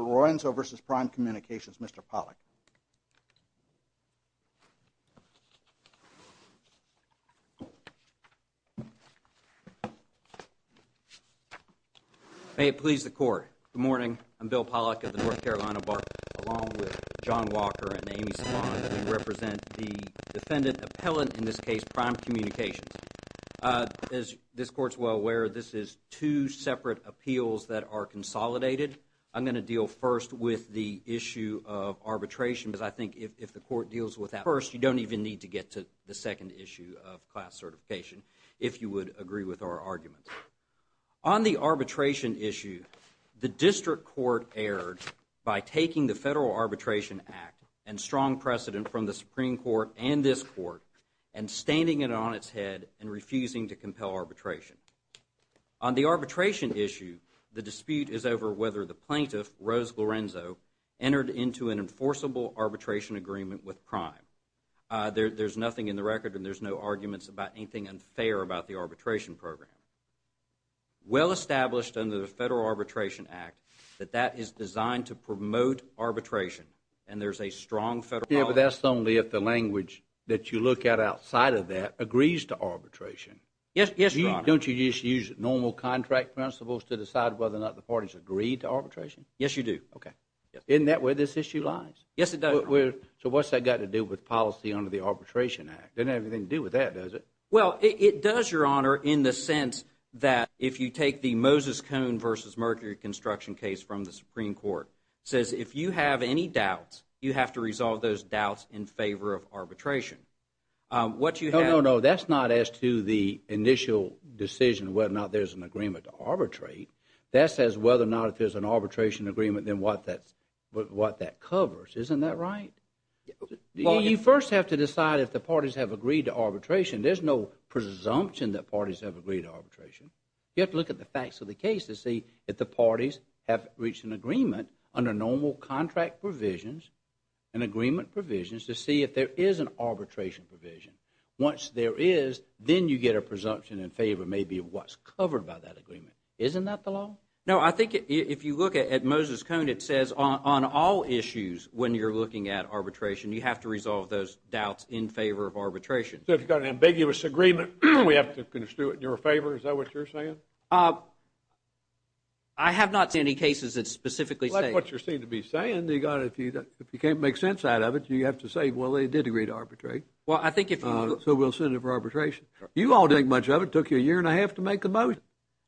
Lorenzo v. Prime Communications, Mr. Pollack. May it please the Court. Good morning. I'm Bill Pollack of the North Carolina Bar Court, along with John Walker and Amy Savant. We represent the defendant appellant, in this case, Prime Communications. As this Court is well aware, this is two separate appeals that are consolidated. I'm going to deal first with the issue of arbitration, because I think if the Court deals with that first, you don't even need to get to the second issue of class certification, if you would agree with our argument. On the arbitration issue, the District Court erred by taking the Federal Arbitration Act and strong precedent from the Supreme Court and this Court and standing it on its head and refusing to compel arbitration. On the arbitration issue, the dispute is over whether the plaintiff, Rose Lorenzo, entered into an enforceable arbitration agreement with Prime. There's nothing in the record and there's no arguments about anything unfair about the arbitration program. Well established under the Federal Arbitration Act that that is designed to promote arbitration, and there's a strong Federal policy. Yeah, but that's only if the language that you look at outside of that agrees to arbitration. Yes, Your Honor. Don't you just use normal contract principles to decide whether or not the parties agree to arbitration? Yes, you do. Okay. Isn't that where this issue lies? Yes, it does. So what's that got to do with policy under the Arbitration Act? It doesn't have anything to do with that, does it? Well, it does, Your Honor, in the sense that if you take the Moses Cone v. Mercury construction case from the Supreme Court, it says if you have any doubts, you have to resolve those doubts in favor of arbitration. No, no, no. That's not as to the initial decision whether or not there's an agreement to arbitrate. That says whether or not if there's an arbitration agreement, then what that covers. Isn't that right? You first have to decide if the parties have agreed to arbitration. There's no presumption that parties have agreed to arbitration. You have to look at the facts of the case to see if the parties have reached an agreement under normal contract provisions and agreement provisions to see if there is an arbitration provision. Once there is, then you get a presumption in favor maybe of what's covered by that agreement. Isn't that the law? No, I think if you look at Moses Cone, it says on all issues when you're looking at arbitration, you have to resolve those doubts in favor of arbitration. So if you've got an ambiguous agreement, we have to do it in your favor? Is that what you're saying? I have not seen any cases that specifically say that. Well, that's what you seem to be saying. If you can't make sense out of it, you have to say, well, they did agree to arbitrate, so we'll sue them for arbitration. You all didn't think much of it. It took you a year and a half to make a motion.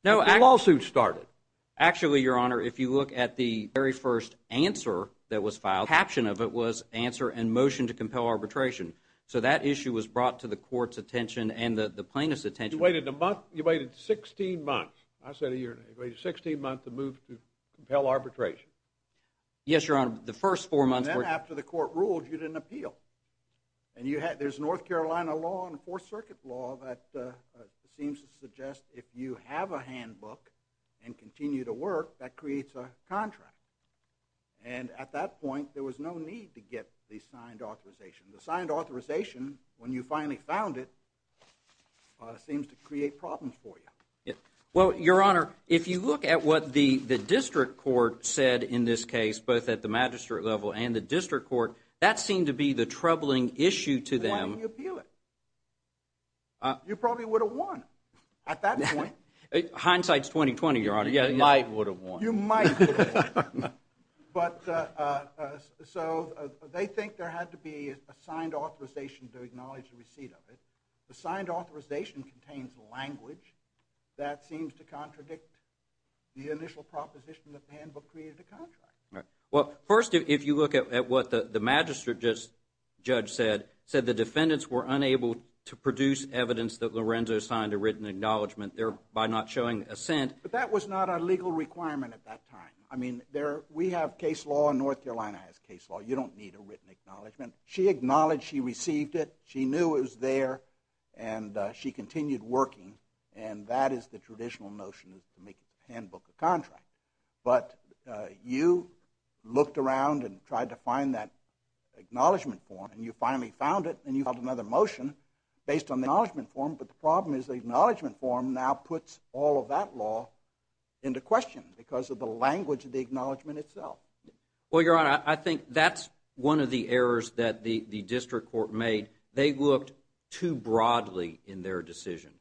No. The lawsuit started. Actually, Your Honor, if you look at the very first answer that was filed, the caption of it was answer and motion to compel arbitration. So that issue was brought to the court's attention and the plaintiff's attention. You waited a month? You waited 16 months. I said a year. You waited 16 months to move to compel arbitration. Yes, Your Honor. The first four months were— And then after the court ruled, you didn't appeal. And there's North Carolina law and Fourth Circuit law that seems to suggest if you have a handbook and continue to work, that creates a contract. And at that point, there was no need to get the signed authorization. The signed authorization, when you finally found it, seems to create problems for you. Well, Your Honor, if you look at what the district court said in this case, both at the magistrate level and the district court, that seemed to be the troubling issue to them. Why didn't you appeal it? You probably would have won at that point. Hindsight's 20-20, Your Honor. You might would have won. You might would have won. But so they think there had to be a signed authorization to acknowledge the receipt of it. The signed authorization contains language that seems to contradict the initial proposition that the handbook created a contract. Right. Well, first, if you look at what the magistrate judge said, said the defendants were unable to produce evidence that Lorenzo signed a written acknowledgment there by not showing assent. But that was not a legal requirement at that time. I mean, we have case law. North Carolina has case law. You don't need a written acknowledgment. She acknowledged she received it. She knew it was there, and she continued working, and that is the traditional notion to make a handbook a contract. But you looked around and tried to find that acknowledgment form, and you finally found it, and you filed another motion based on the acknowledgment form. But the problem is the acknowledgment form now puts all of that law into question because of the language of the acknowledgment itself. Well, Your Honor, I think that's one of the errors that the district court made. They looked too broadly in their decision.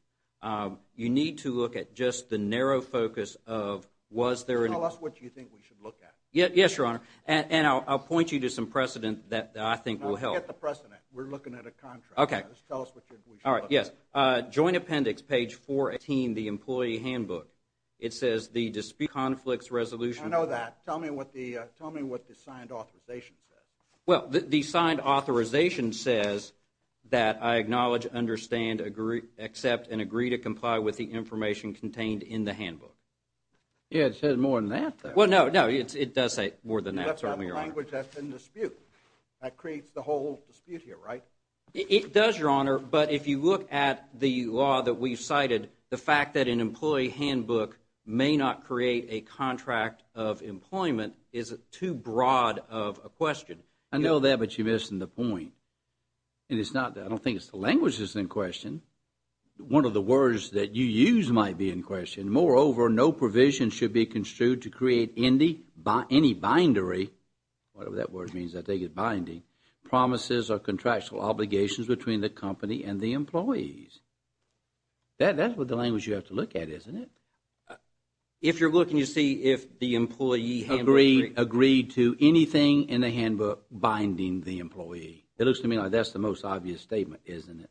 You need to look at just the narrow focus of was there an – Tell us what you think we should look at. Yes, Your Honor, and I'll point you to some precedent that I think will help. No, forget the precedent. We're looking at a contract. Okay. Just tell us what we should look at. All right, yes. Joint Appendix, page 14, the employee handbook. It says the dispute conflicts resolution – I know that. Tell me what the signed authorization says. Well, the signed authorization says that I acknowledge, understand, accept, and agree to comply with the information contained in the handbook. Yeah, it says more than that there. Well, no, no, it does say more than that, certainly, Your Honor. You left out the language that's in dispute. That creates the whole dispute here, right? It does, Your Honor. But if you look at the law that we've cited, the fact that an employee handbook may not create a contract of employment is too broad of a question. I know that, but you're missing the point. And it's not – I don't think it's the language that's in question. One of the words that you use might be in question. Moreover, no provision should be construed to create any bindery – whatever that word means, I think it's binding – promises or contractual obligations between the company and the employees. That's the language you have to look at, isn't it? If you're looking to see if the employee handbook – Agreed to anything in the handbook binding the employee. It looks to me like that's the most obvious statement, isn't it?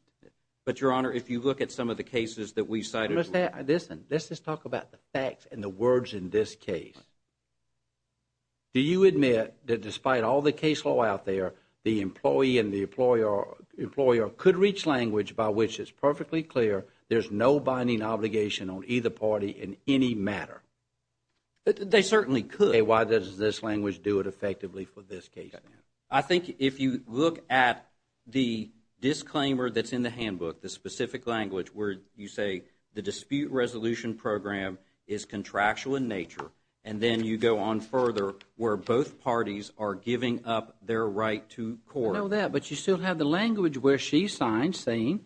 But, Your Honor, if you look at some of the cases that we cited – Listen, let's just talk about the facts and the words in this case. Do you admit that despite all the case law out there, the employee and the employer could reach language by which it's perfectly clear there's no binding obligation on either party in any matter? They certainly could. Okay, why does this language do it effectively for this case, then? I think if you look at the disclaimer that's in the handbook, the specific language where you say the dispute resolution program is contractual in nature, and then you go on further where both parties are giving up their right to court. I know that, but you still have the language where she signs saying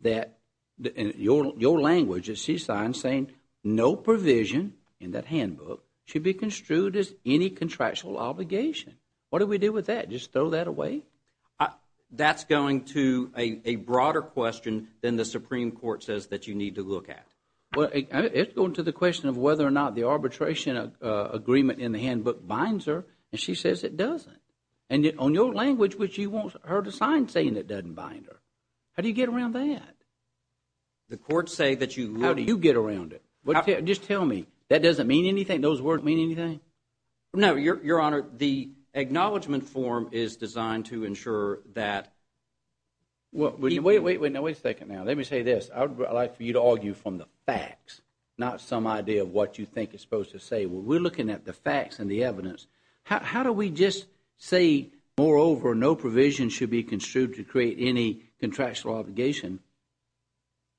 that – your language that she signs saying no provision in that handbook should be construed as any contractual obligation. What do we do with that? Just throw that away? That's going to a broader question than the Supreme Court says that you need to look at. Well, it's going to the question of whether or not the arbitration agreement in the handbook binds her, and she says it doesn't. And on your language, which you want her to sign saying it doesn't bind her. How do you get around that? The courts say that you – How do you get around it? Just tell me. That doesn't mean anything? Those words mean anything? No, Your Honor, the acknowledgment form is designed to ensure that – Wait a second now. Let me say this. I would like for you to argue from the facts, not some idea of what you think it's supposed to say. We're looking at the facts and the evidence. How do we just say, moreover, no provision should be construed to create any contractual obligation?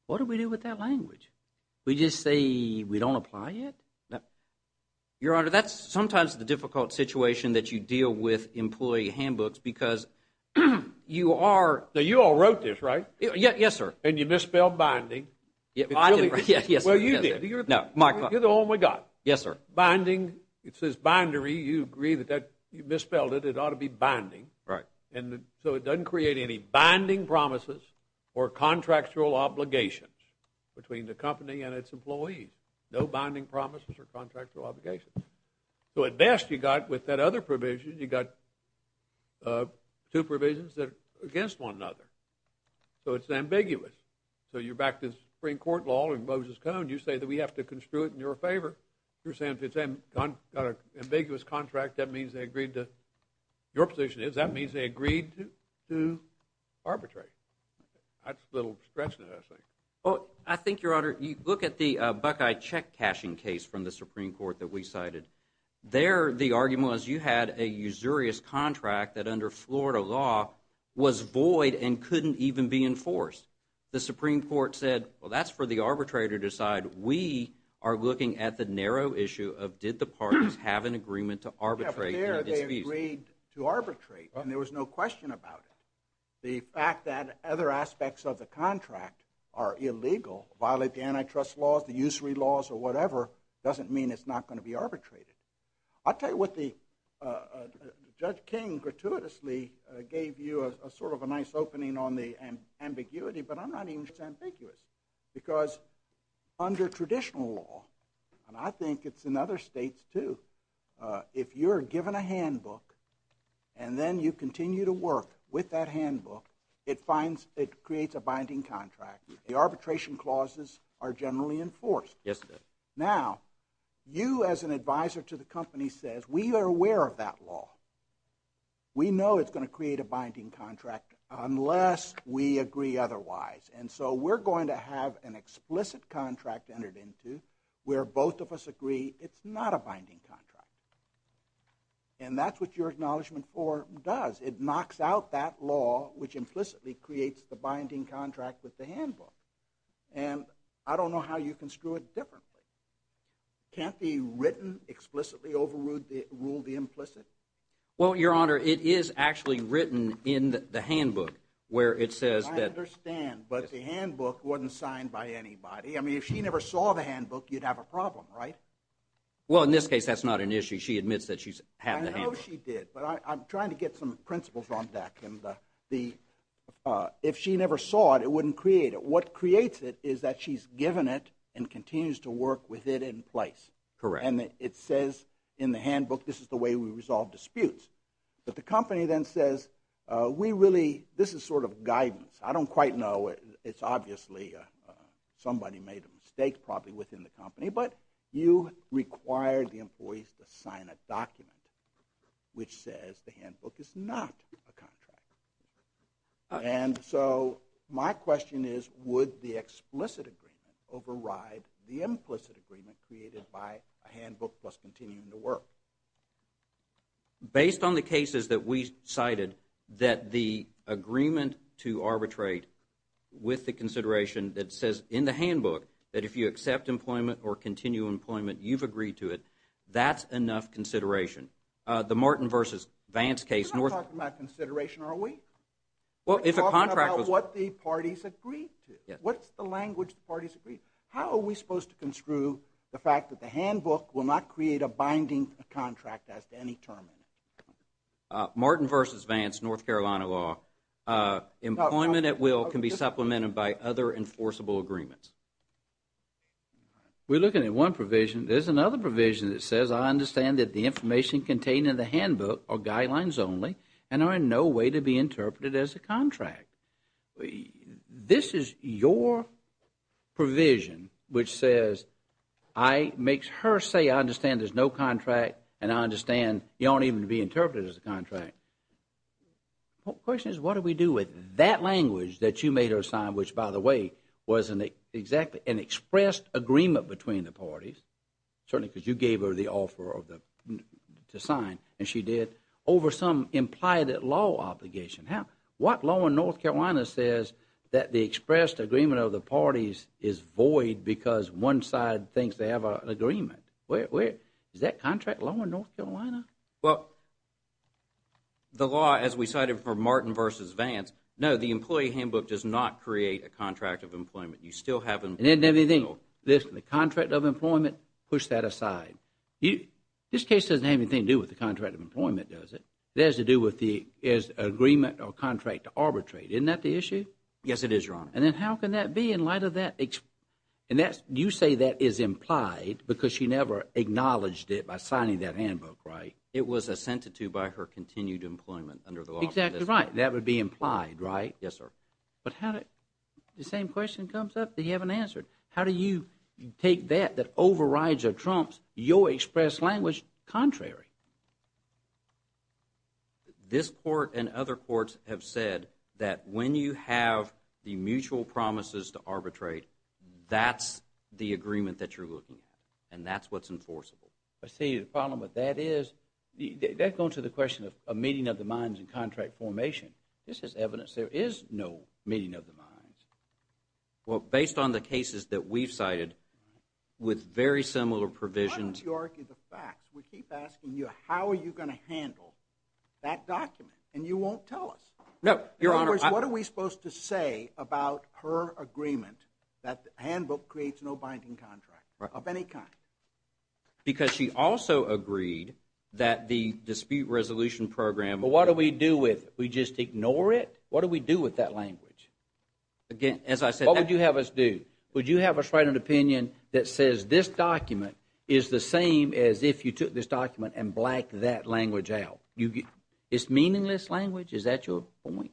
What do we do with that language? We just say we don't apply it? Your Honor, that's sometimes the difficult situation that you deal with employee handbooks because you are – Now, you all wrote this, right? Yes, sir. And you misspelled binding. Yes, sir. Well, you did. No, my – You're the only guy. Yes, sir. Binding, it says bindery. You agree that you misspelled it. It ought to be binding. Right. And so it doesn't create any binding promises or contractual obligations between the company and its employees. No binding promises or contractual obligations. So at best, you've got – with that other provision, you've got two provisions that are against one another. So it's ambiguous. So you're back to Supreme Court law and Moses Cone. You say that we have to construe it in your favor. You're saying if it's an ambiguous contract, that means they agreed to – your position is that means they agreed to arbitrate. That's a little stretch, isn't it, I think? Well, I think, Your Honor, you look at the Buckeye check cashing case from the Supreme Court that we cited. There the argument was you had a usurious contract that under Florida law was void and couldn't even be enforced. The Supreme Court said, well, that's for the arbitrator to decide. We are looking at the narrow issue of did the parties have an agreement to arbitrate. Yeah, but there they agreed to arbitrate, and there was no question about it. The fact that other aspects of the contract are illegal, violate the antitrust laws, the usury laws or whatever, doesn't mean it's not going to be arbitrated. I'll tell you what the – Judge King gratuitously gave you a sort of a nice opening on the ambiguity, but I'm not even ambiguous because under traditional law, and I think it's in other states too, if you're given a handbook and then you continue to work with that handbook, it creates a binding contract. The arbitration clauses are generally enforced. Yes, they are. Now, you as an advisor to the company says we are aware of that law. We know it's going to create a binding contract unless we agree otherwise, and so we're going to have an explicit contract entered into where both of us agree it's not a binding contract, and that's what your Acknowledgement IV does. It knocks out that law, which implicitly creates the binding contract with the handbook, and I don't know how you can screw it differently. Can't be written explicitly, overrule the implicit? Well, Your Honor, it is actually written in the handbook where it says that – But the handbook wasn't signed by anybody. I mean, if she never saw the handbook, you'd have a problem, right? Well, in this case, that's not an issue. She admits that she's had the handbook. I know she did, but I'm trying to get some principles on that. If she never saw it, it wouldn't create it. What creates it is that she's given it and continues to work with it in place. Correct. And it says in the handbook this is the way we resolve disputes. But the company then says we really – this is sort of guidance. I don't quite know. It's obviously somebody made a mistake probably within the company. But you require the employees to sign a document which says the handbook is not a contract. And so my question is would the explicit agreement override the implicit agreement created by a handbook plus continuing to work? Based on the cases that we cited, that the agreement to arbitrate with the consideration that says in the handbook that if you accept employment or continue employment, you've agreed to it, that's enough consideration. The Martin v. Vance case – We're not talking about consideration, are we? Well, if a contract was – We're talking about what the parties agreed to. What's the language the parties agreed to? How are we supposed to construe the fact that the handbook will not create a binding contract as to any term in it? Martin v. Vance, North Carolina law. Employment at will can be supplemented by other enforceable agreements. We're looking at one provision. There's another provision that says I understand that the information contained in the handbook are guidelines only This is your provision which says I – makes her say I understand there's no contract and I understand you don't even need to be interpreted as a contract. The question is what do we do with that language that you made her sign, which, by the way, was exactly an expressed agreement between the parties, certainly because you gave her the offer to sign, and she did, over some implied law obligation. What law in North Carolina says that the expressed agreement of the parties is void because one side thinks they have an agreement? Is that contract law in North Carolina? Well, the law, as we cited for Martin v. Vance, no, the employee handbook does not create a contract of employment. You still have – It doesn't have anything. Listen, the contract of employment, push that aside. This case doesn't have anything to do with the contract of employment, does it? It has to do with the agreement or contract to arbitrate. Isn't that the issue? Yes, it is, Your Honor. And then how can that be in light of that? And that's – you say that is implied because she never acknowledged it by signing that handbook, right? It was assented to by her continued employment under the law. Exactly right. That would be implied, right? Yes, sir. But how did – the same question comes up that you haven't answered. How do you take that that overrides or trumps your expressed language contrary? This court and other courts have said that when you have the mutual promises to arbitrate, that's the agreement that you're looking at, and that's what's enforceable. I see the problem with that is that goes to the question of meeting of the minds and contract formation. This is evidence there is no meeting of the minds. Well, based on the cases that we've cited with very similar provisions – Why don't you argue the facts? We keep asking you how are you going to handle that document, and you won't tell us. No, Your Honor – In other words, what are we supposed to say about her agreement that the handbook creates no binding contract of any kind? Because she also agreed that the dispute resolution program – But what do we do with it? We just ignore it? What do we do with that language? Again, as I said – What would you have us do? Would you have us write an opinion that says this document is the same as if you took this document and blacked that language out? It's meaningless language? Is that your point?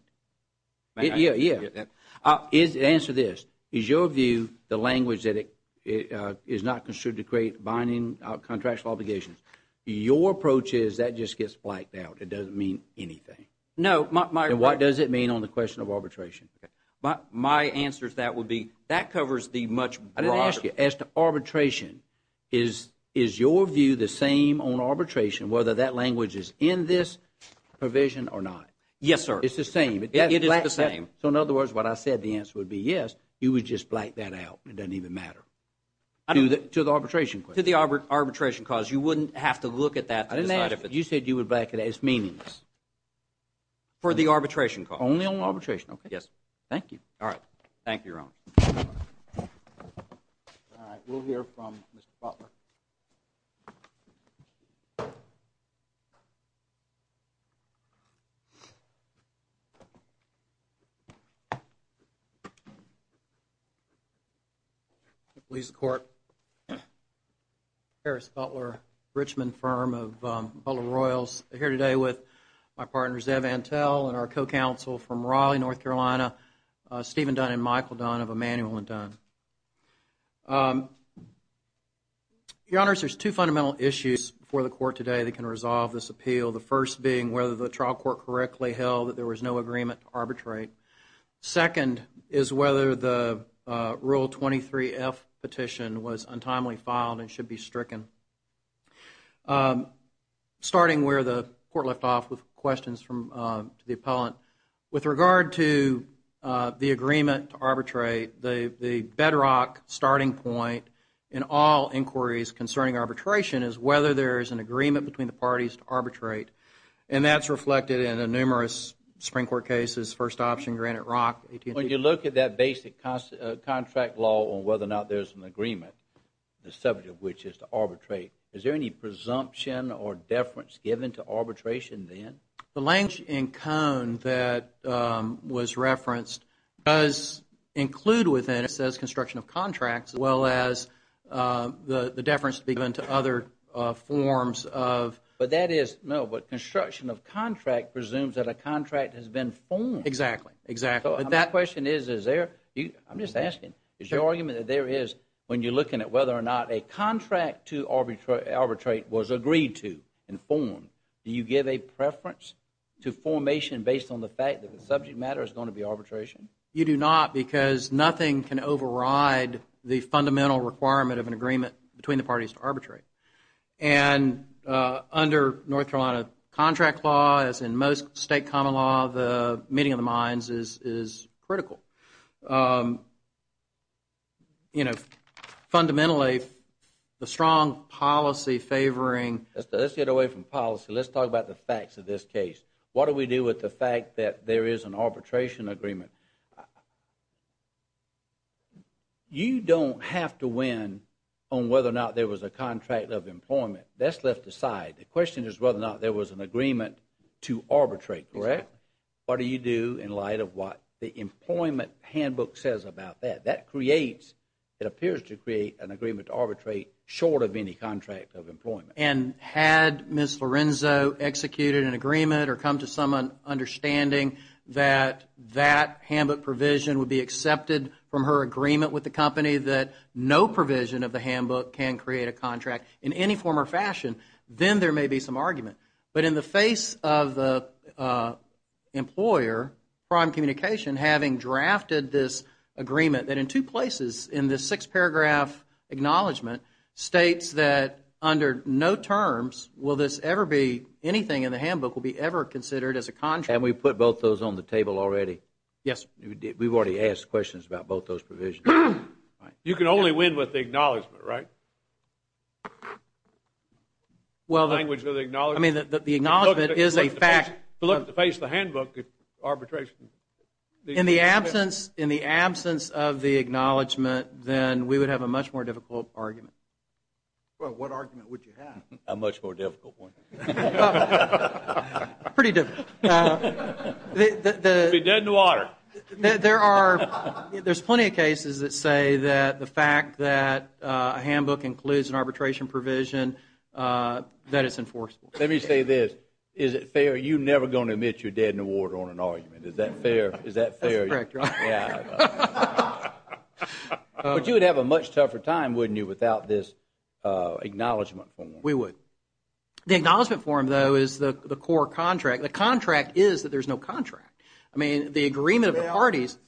Yeah, yeah. Answer this. Is your view the language that is not construed to create binding contractual obligations? Your approach is that just gets blacked out. It doesn't mean anything. No, my – Then what does it mean on the question of arbitration? My answer to that would be that covers the much broader – I didn't ask you. As to arbitration, is your view the same on arbitration, whether that language is in this provision or not? Yes, sir. It's the same. It is the same. So in other words, what I said the answer would be yes, you would just black that out. It doesn't even matter. To the arbitration question. To the arbitration cause. You wouldn't have to look at that to decide if it's – I didn't ask you. You said you would black it out. It's meaningless. For the arbitration cause. Only on arbitration. Only on arbitration. Okay. Yes. Thank you. All right. Thank you, Your Honor. All right. We'll hear from Mr. Butler. Police Court. Harris Butler, Richmond firm of Butler Royals. I'm here today with my partner Zev Antel and our co-counsel from Raleigh, North Carolina, Stephen Dunn and Michael Dunn of Emanuel & Dunn. Your Honors, there's two fundamental issues for the court today that can resolve this appeal. The first being whether the trial court correctly held that there was no agreement to arbitrate. Second is whether the Rule 23-F petition was untimely filed and should be stricken. Starting where the court left off with questions to the appellant, with regard to the agreement to arbitrate, the bedrock starting point in all inquiries concerning arbitration is whether there is an agreement between the parties to arbitrate. And that's reflected in numerous Supreme Court cases, first option, Granite Rock. When you look at that basic contract law on whether or not there's an agreement, the subject of which is to arbitrate, is there any presumption or deference given to arbitration then? The language in Cone that was referenced does include within it, it says construction of contracts, as well as the deference to be given to other forms of. But that is, no, but construction of contract presumes that a contract has been formed. Exactly, exactly. So that question is, is there, I'm just asking, is your argument that there is, when you're looking at whether or not a contract to arbitrate was agreed to and formed, do you give a preference to formation based on the fact that the subject matter is going to be arbitration? You do not because nothing can override the fundamental requirement of an agreement between the parties to arbitrate. And under North Carolina contract law, as in most state common law, the meeting of the minds is critical. You know, fundamentally, the strong policy favoring Let's get away from policy, let's talk about the facts of this case. What do we do with the fact that there is an arbitration agreement? You don't have to win on whether or not there was a contract of employment. That's left aside. The question is whether or not there was an agreement to arbitrate, correct? What do you do in light of what the employment handbook says about that? That creates, it appears to create an agreement to arbitrate short of any contract of employment. And had Ms. Lorenzo executed an agreement or come to some understanding that that handbook provision would be accepted from her agreement with the company that no provision of the handbook can create a contract in any form or fashion, then there may be some argument. But in the face of the employer, Prime Communication, having drafted this agreement, that in two places in this six-paragraph acknowledgment states that under no terms will this ever be anything in the handbook will be ever considered as a contract. And we put both those on the table already? Yes. We've already asked questions about both those provisions. You can only win with the acknowledgment, right? The language of the acknowledgment. I mean, the acknowledgment is a fact. But look at the face of the handbook arbitration. In the absence of the acknowledgment, then we would have a much more difficult argument. Well, what argument would you have? A much more difficult one. Pretty difficult. You'd be dead in the water. There's plenty of cases that say that the fact that a handbook includes an arbitration provision, that it's enforceable. Let me say this. Is it fair you're never going to admit you're dead in the water on an argument? Is that fair? That's correct, Ron. But you would have a much tougher time, wouldn't you, without this acknowledgment form? We would. The acknowledgment form, though, is the core contract. The contract is that there's no contract. I mean, the agreement of the parties.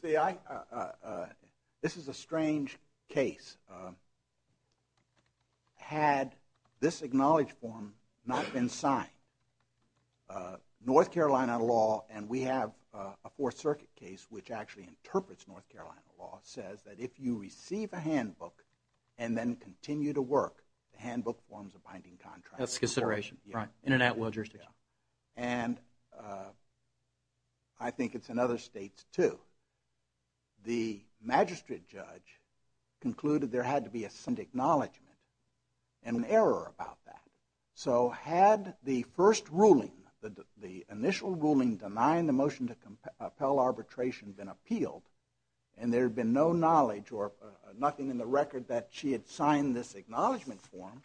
This is a strange case. And had this acknowledged form not been signed, North Carolina law, and we have a Fourth Circuit case which actually interprets North Carolina law, says that if you receive a handbook and then continue to work, the handbook forms a binding contract. That's consideration. Right. Internet law jurisdiction. And I think it's in other states, too. The magistrate judge concluded there had to be some acknowledgment and an error about that. So had the first ruling, the initial ruling denying the motion to compel arbitration been appealed, and there had been no knowledge or nothing in the record that she had signed this acknowledgment form,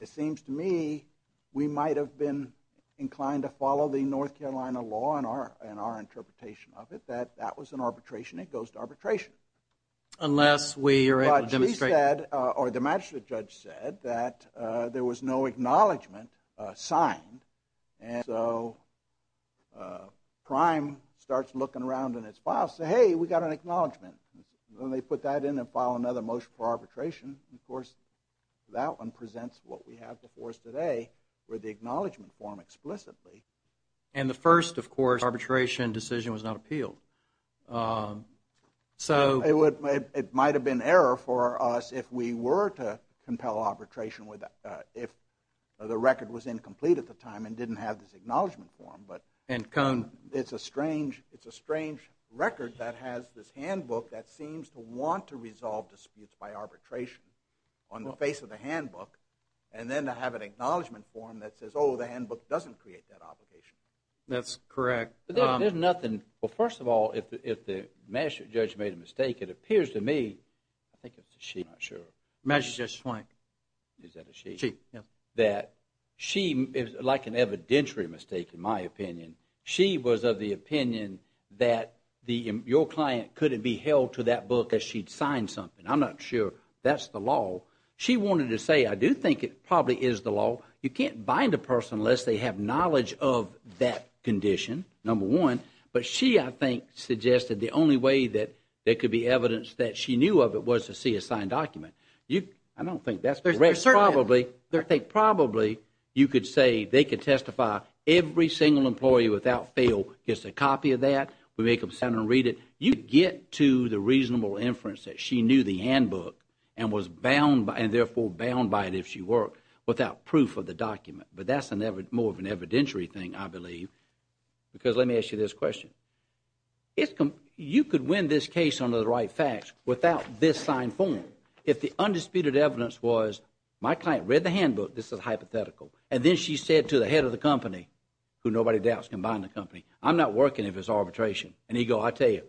it seems to me we might have been inclined to follow the North Carolina law in our interpretation of it, that that was an arbitration. It goes to arbitration. Unless we are able to demonstrate. But she said, or the magistrate judge said, that there was no acknowledgment signed. And so Prime starts looking around in its files and says, hey, we got an acknowledgment. And they put that in and file another motion for arbitration. And, of course, that one presents what we have before us today, where the acknowledgment form explicitly. And the first, of course, arbitration decision was not appealed. It might have been error for us if we were to compel arbitration if the record was incomplete at the time and didn't have this acknowledgment form. It's a strange record that has this handbook that seems to want to resolve disputes by arbitration on the face of the handbook, and then to have an acknowledgment form that says, oh, the handbook doesn't create that obligation. That's correct. There's nothing. Well, first of all, if the magistrate judge made a mistake, it appears to me, I think it's a she, I'm not sure. Magistrate Judge Swank. Is that a she? She, yes. That she, like an evidentiary mistake in my opinion, she was of the opinion that your client couldn't be held to that book as she'd signed something. I'm not sure that's the law. She wanted to say, I do think it probably is the law. You can't bind a person unless they have knowledge of that condition, number one. But she, I think, suggested the only way that there could be evidence that she knew of it was to see a signed document. I don't think that's correct. I think probably you could say they could testify every single employee without fail gets a copy of that. We make them sign and read it. You get to the reasonable inference that she knew the handbook and was bound, and therefore bound by it if she worked, without proof of the document. But that's more of an evidentiary thing, I believe. Because let me ask you this question. You could win this case under the right facts without this signed form. If the undisputed evidence was my client read the handbook, this is hypothetical, and then she said to the head of the company, who nobody doubts can bind the company, I'm not working if it's arbitration. And he'd go, I'll tell you,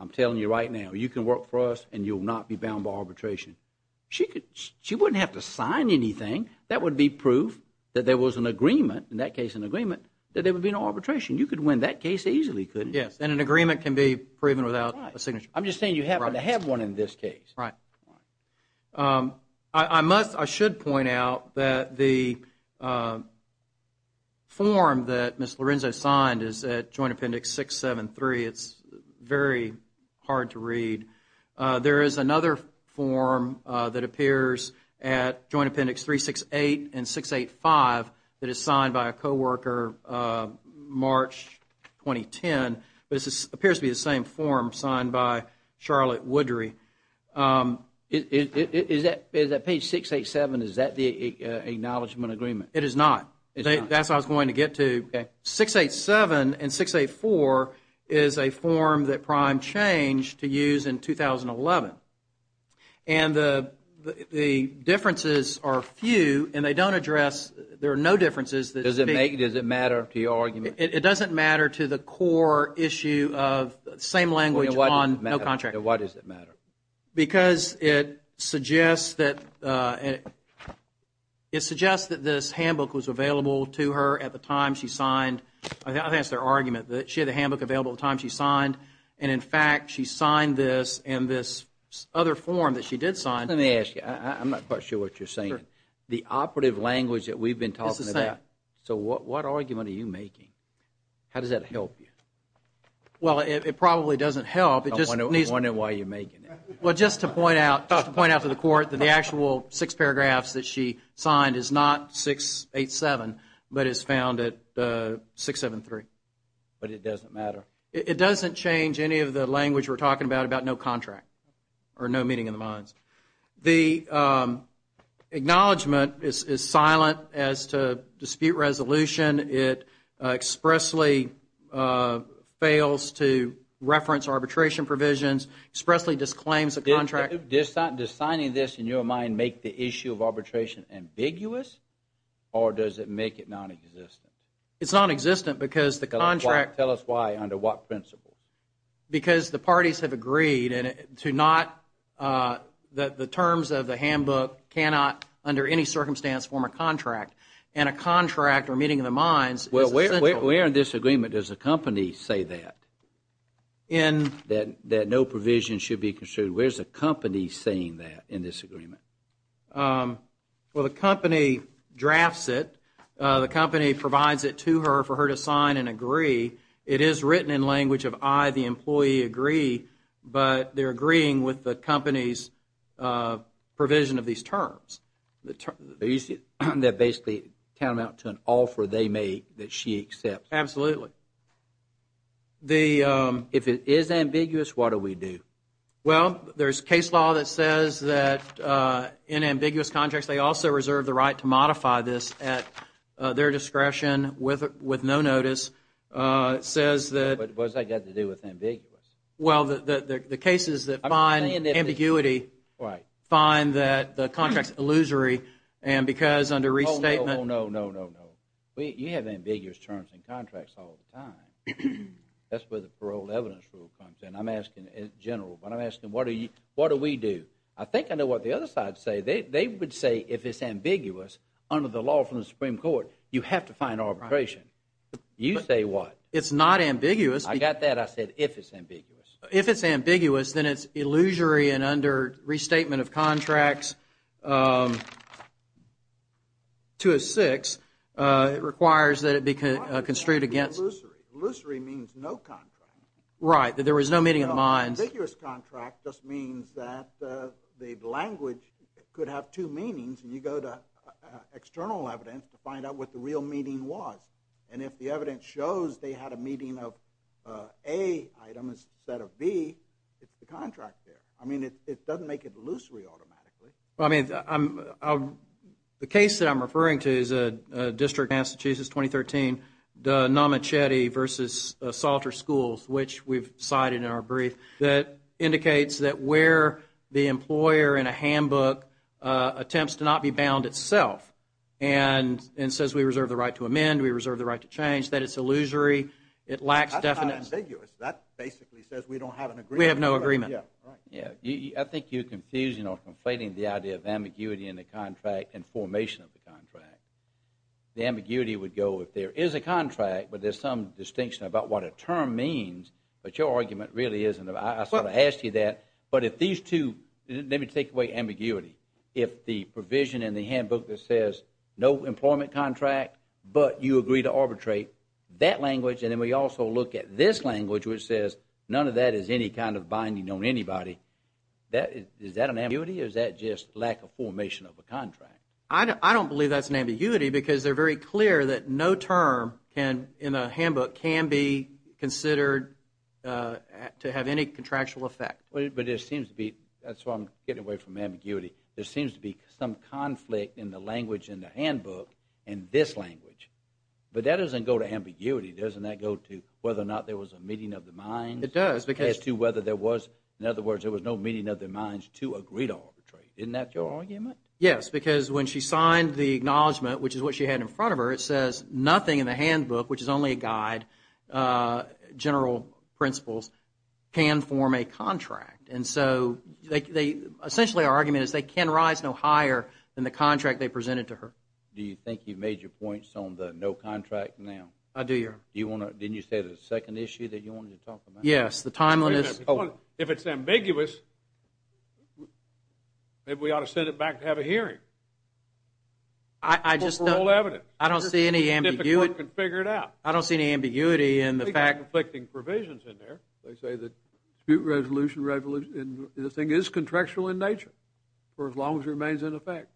I'm telling you right now, you can work for us and you'll not be bound by arbitration. She wouldn't have to sign anything. That would be proof that there was an agreement, in that case an agreement, that there would be no arbitration. You could win that case easily, couldn't you? Yes, and an agreement can be proven without a signature. I'm just saying you happen to have one in this case. Right. I must, I should point out that the form that Ms. Lorenzo signed is at Joint Appendix 673. It's very hard to read. There is another form that appears at Joint Appendix 368 and 685 that is signed by a co-worker March 2010. This appears to be the same form signed by Charlotte Woodry. Is that page 687, is that the acknowledgment agreement? It is not. That's what I was going to get to. 687 and 684 is a form that Prime changed to use in 2011. And the differences are few and they don't address, there are no differences. Does it matter to your argument? It doesn't matter to the core issue of the same language on no contract. Why does it matter? Because it suggests that this handbook was available to her at the time she signed. I think that's their argument, that she had the handbook available at the time she signed. And, in fact, she signed this in this other form that she did sign. Let me ask you, I'm not quite sure what you're saying. The operative language that we've been talking about. This is it. So what argument are you making? How does that help you? Well, it probably doesn't help. I'm wondering why you're making it. Well, just to point out to the court that the actual six paragraphs that she signed is not 687, but is found at 673. But it doesn't matter? It doesn't change any of the language we're talking about about no contract or no meeting of the minds. The acknowledgment is silent as to dispute resolution. It expressly fails to reference arbitration provisions, expressly disclaims a contract. Does signing this, in your mind, make the issue of arbitration ambiguous, or does it make it nonexistent? It's nonexistent because the contract. Tell us why. Under what principles? Because the parties have agreed that the terms of the handbook cannot, under any circumstance, form a contract. And a contract or meeting of the minds is essential. Well, where in this agreement does the company say that, that no provision should be construed? Where is the company saying that in this agreement? Well, the company drafts it. The company provides it to her for her to sign and agree. It is written in language of I, the employee, agree. But they're agreeing with the company's provision of these terms. The terms that basically come out to an offer they make that she accepts. Absolutely. If it is ambiguous, what do we do? Well, there's case law that says that in ambiguous contracts, they also reserve the right to modify this at their discretion with no notice. It says that. What's that got to do with ambiguous? Well, the cases that find ambiguity find that the contract's illusory, and because under restatement. Oh, no, no, no, no, no. You have ambiguous terms in contracts all the time. That's where the parole evidence rule comes in. I'm asking, in general, but I'm asking, what do we do? I think I know what the other side say. They would say if it's ambiguous, under the law from the Supreme Court, you have to find arbitration. You say what? It's not ambiguous. I got that. I said if it's ambiguous. If it's ambiguous, then it's illusory, and under restatement of contracts 206, it requires that it be construed against. Right, that there was no meeting of the minds. An ambiguous contract just means that the language could have two meanings, and you go to external evidence to find out what the real meaning was, and if the evidence shows they had a meeting of A item instead of B, it's the contract there. I mean, it doesn't make it illusory automatically. I mean, the case that I'm referring to is a district in Massachusetts, 2013, the Namachete versus Salter Schools, which we've cited in our brief, that indicates that where the employer in a handbook attempts to not be bound itself and says we reserve the right to amend, we reserve the right to change, that it's illusory. That's not ambiguous. That basically says we don't have an agreement. We have no agreement. I think you're confusing or conflating the idea of ambiguity in the contract and formation of the contract. The ambiguity would go if there is a contract, but there's some distinction about what a term means, but your argument really isn't. I sort of asked you that. But if these two, let me take away ambiguity. If the provision in the handbook that says no employment contract, but you agree to arbitrate, that language, and then we also look at this language which says none of that is any kind of binding on anybody, is that an ambiguity, or is that just lack of formation of a contract? I don't believe that's an ambiguity because they're very clear that no term in a handbook can be considered to have any contractual effect. But it seems to be, that's why I'm getting away from ambiguity, there seems to be some conflict in the language in the handbook and this language, but that doesn't go to ambiguity. Doesn't that go to whether or not there was a meeting of the minds? It does. As to whether there was, in other words, there was no meeting of the minds to agree to arbitrate. Isn't that your argument? Yes, because when she signed the acknowledgement, which is what she had in front of her, it says nothing in the handbook, which is only a guide, general principles, can form a contract. And so essentially our argument is they can rise no higher than the contract they presented to her. Do you think you've made your points on the no contract now? I do, Your Honor. Didn't you say the second issue that you wanted to talk about? Yes, the timeline is. If it's ambiguous, maybe we ought to send it back to have a hearing. I just don't. For all evidence. I don't see any ambiguity. If the court can figure it out. I don't see any ambiguity in the fact. They've got conflicting provisions in there. They say the dispute resolution, the thing is contractual in nature for as long as it remains in effect.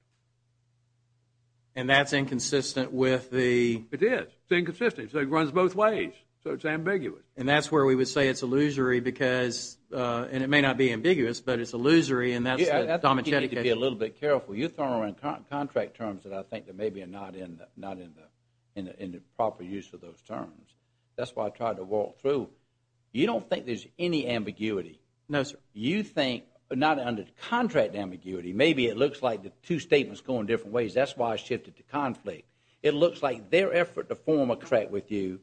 And that's inconsistent with the. It is. It's inconsistent. So it runs both ways. So it's ambiguous. And that's where we would say it's illusory because, and it may not be ambiguous, but it's illusory. And that's the. You need to be a little bit careful. You're throwing around contract terms that I think that maybe are not in the proper use of those terms. That's why I tried to walk through. You don't think there's any ambiguity? No, sir. You think, not under contract ambiguity, maybe it looks like the two statements go in different ways. That's why I shifted to conflict. It looks like their effort to form a contract with you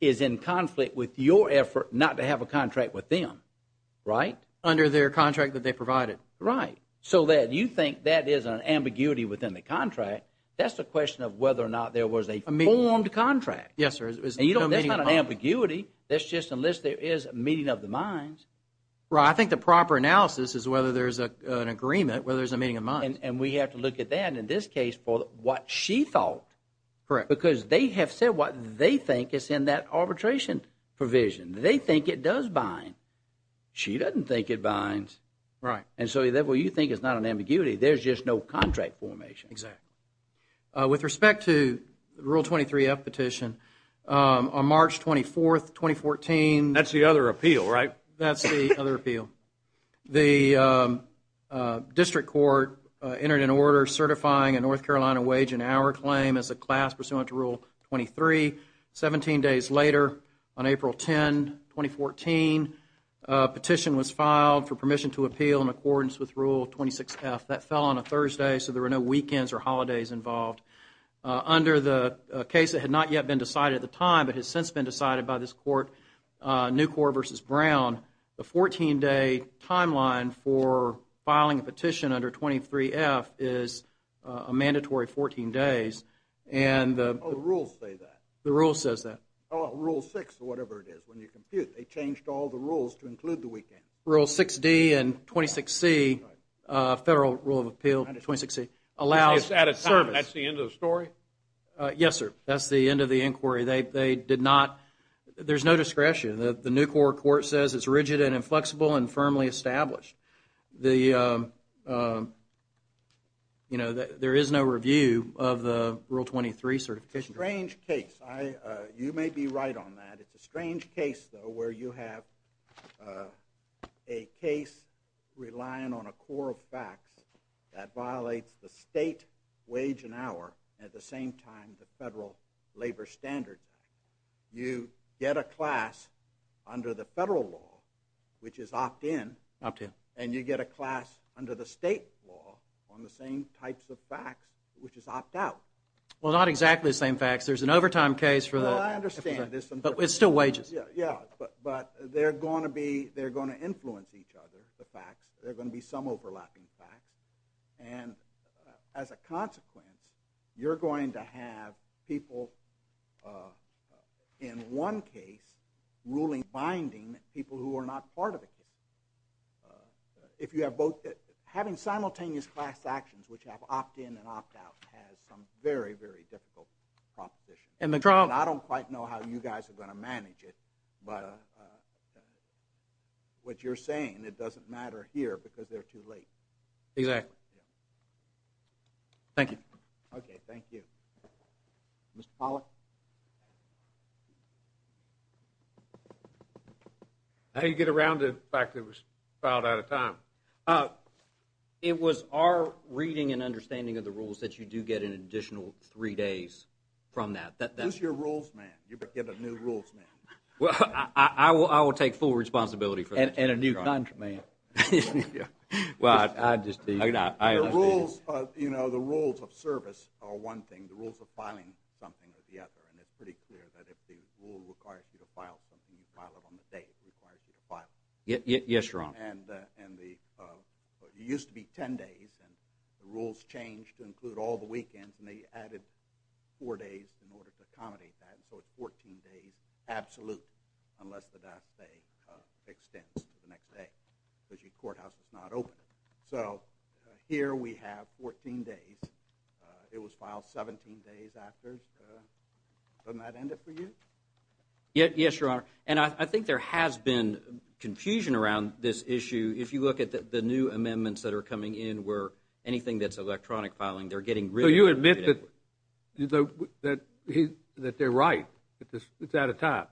is in conflict with your effort not to have a contract with them. Right. Under their contract that they provided. Right. So that you think that is an ambiguity within the contract. That's the question of whether or not there was a formed contract. Yes, sir. And you don't. That's not an ambiguity. That's just unless there is a meeting of the minds. Right. I think the proper analysis is whether there's an agreement, whether there's a meeting of minds. And we have to look at that. In this case for what she thought. Correct. Because they have said what they think is in that arbitration provision. They think it does bind. She doesn't think it binds. Right. And so you think it's not an ambiguity. There's just no contract formation. Exactly. With respect to the Rule 23-F petition, on March 24th, 2014. That's the other appeal, right? That's the other appeal. The district court entered an order certifying a North Carolina wage and hour claim as a class pursuant to Rule 23. Seventeen days later, on April 10, 2014, a petition was filed for permission to appeal in accordance with Rule 26-F. That fell on a Thursday, so there were no weekends or holidays involved. Under the case that had not yet been decided at the time, but has since been decided by this court, Newcorp v. Brown, the 14-day timeline for filing a petition under 23-F is a mandatory 14 days. Oh, the rules say that. The rule says that. Oh, Rule 6 or whatever it is. When you compute, they changed all the rules to include the weekend. Rule 6-D and 26-C, Federal Rule of Appeal 26-C, allows service. Which is at a time. That's the end of the story? Yes, sir. That's the end of the inquiry. They did not. There's no discretion. The Newcorp court says it's rigid and inflexible and firmly established. There is no review of the Rule 23 certification. It's a strange case. You may be right on that. It's a strange case, though, where you have a case relying on a core of facts that violates the state wage and hour at the same time the federal labor standards. You get a class under the federal law, which is opt-in. Opt-in. And you get a class under the state law on the same types of facts, which is opt-out. Well, not exactly the same facts. There's an overtime case. Well, I understand this. But it's still wages. Yeah, but they're going to influence each other, the facts. There are going to be some overlapping facts. And as a consequence, you're going to have people, in one case, ruling binding people who are not part of the case. Having simultaneous class actions, which have opt-in and opt-out, has some very, very difficult propositions. I don't quite know how you guys are going to manage it, but what you're saying, it doesn't matter here because they're too late. Exactly. Thank you. Okay, thank you. Mr. Pollack? How do you get around the fact that it was filed out of time? It was our reading and understanding of the rules that you do get an additional three days from that. Who's your rules man? You get a new rules man. Well, I will take full responsibility for that. And a new contra man. Well, I just think I understand. The rules of service are one thing. The rules of filing something are the other, and it's pretty clear that if the rule requires you to file something, you file it on the day it requires you to file it. Yes, Your Honor. And it used to be ten days, and the rules changed to include all the weekends, and they added four days in order to accommodate that. So it's 14 days, absolutely, unless the day extends to the next day because your courthouse is not open. So here we have 14 days. It was filed 17 days after. Doesn't that end it for you? Yes, Your Honor. And I think there has been confusion around this issue. If you look at the new amendments that are coming in where anything that's electronic filing, they're getting rid of it. So you admit that they're right, that it's out of time.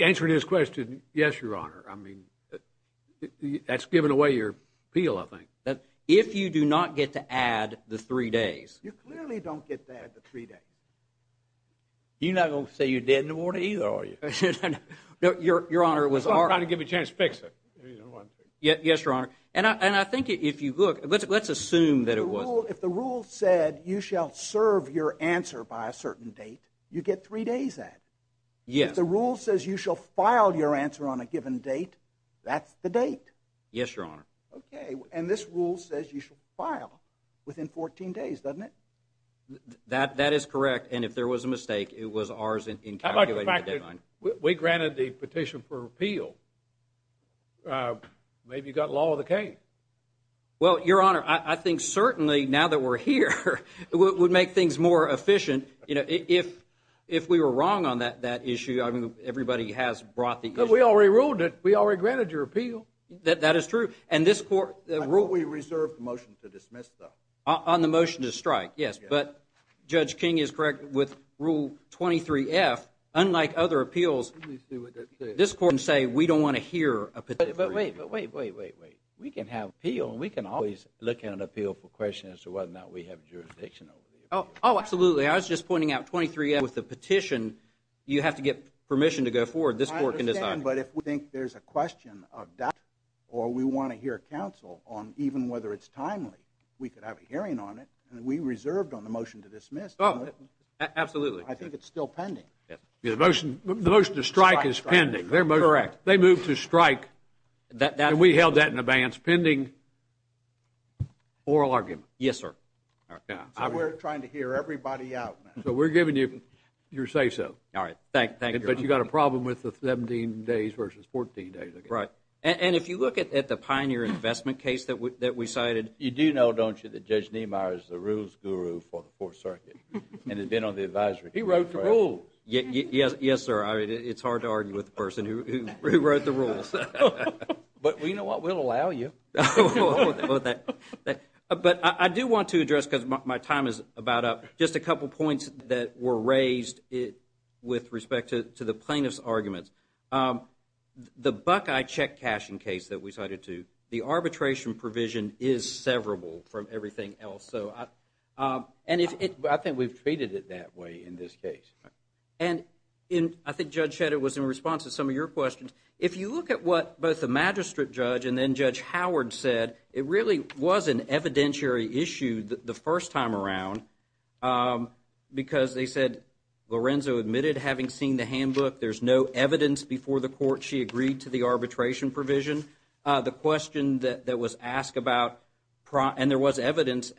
Answering his question, yes, Your Honor. I mean, that's giving away your appeal, I think. If you do not get to add the three days. You clearly don't get to add the three days. You're not going to say you did in the morning either, are you? No, Your Honor, it was our – I'm trying to give you a chance to fix it. Yes, Your Honor. And I think if you look, let's assume that it was – if the rule said you shall serve your answer by a certain date, you get three days added. Yes. If the rule says you shall file your answer on a given date, that's the date. Yes, Your Honor. Okay. And this rule says you shall file within 14 days, doesn't it? That is correct. And if there was a mistake, it was ours in calculating the deadline. How about the fact that we granted the petition for appeal? Maybe you've got law of the game. Well, Your Honor, I think certainly now that we're here, it would make things more efficient. You know, if we were wrong on that issue, I mean, everybody has brought the issue. But we already ruled it. We already granted your appeal. That is true. And this court – I thought we reserved the motion to dismiss, though. On the motion to strike, yes. But Judge King is correct with Rule 23F. Unlike other appeals, this court can say we don't want to hear a petition. But wait, wait, wait, wait, wait. We can have appeal and we can always look at an appeal for questions as to whether or not we have jurisdiction over the appeal. Oh, absolutely. I was just pointing out 23F with the petition, you have to get permission to go forward. This court can decide. I understand, but if we think there's a question of doubt or we want to hear counsel on even whether it's timely, we could have a hearing on it. And we reserved on the motion to dismiss. Absolutely. I think it's still pending. The motion to strike is pending. Correct. They moved to strike, and we held that in advance, pending oral argument. Yes, sir. We're trying to hear everybody out now. So we're giving you your say-so. All right. Thank you. But you've got a problem with the 17 days versus 14 days. Right. And if you look at the Pioneer Investment case that we cited – You do know, don't you, that Judge Niemeyer is the rules guru for the Fourth Circuit and has been on the advisory committee. He wrote the rules. Yes, sir. It's hard to argue with the person who wrote the rules. But you know what? We'll allow you. But I do want to address, because my time is about up, just a couple points that were raised with respect to the plaintiff's arguments. The Buckeye check cashing case that we cited too, the arbitration provision is severable from everything else. I think we've treated it that way in this case. And I think Judge Shetter was in response to some of your questions. If you look at what both the magistrate judge and then Judge Howard said, it really was an evidentiary issue the first time around, because they said Lorenzo admitted having seen the handbook. There's no evidence before the court she agreed to the arbitration provision. The question that was asked about – and there was evidence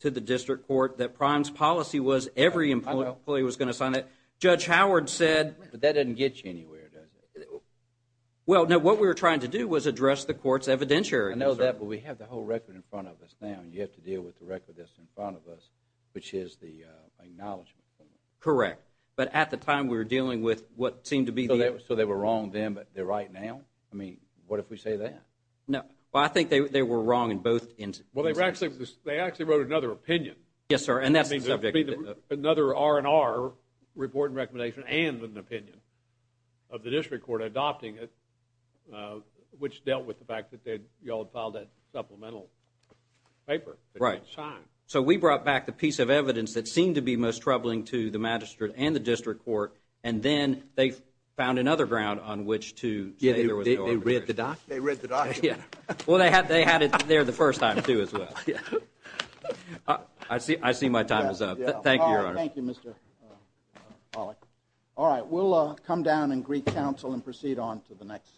to the district court that Prime's policy was that every employee was going to sign it. Judge Howard said – But that doesn't get you anywhere, does it? Well, no. What we were trying to do was address the court's evidentiary. I know that, but we have the whole record in front of us now, and you have to deal with the record that's in front of us, which is the acknowledgment. Correct. But at the time, we were dealing with what seemed to be the – So they were wrong then, but they're right now? I mean, what if we say that? No. Well, I think they were wrong in both instances. Well, they actually wrote another opinion. Yes, sir. Another R&R, report and recommendation, and an opinion of the district court adopting it, which dealt with the fact that you all had filed that supplemental paper. Right. So we brought back the piece of evidence that seemed to be most troubling to the magistrate and the district court, and then they found another ground on which to say there was no arbitration. They read the document? They read the document. Well, they had it there the first time, too, as well. I see my time is up. Thank you, Your Honor. Thank you, Mr. Pollack. All right, we'll come down and greet counsel and proceed on to the next case.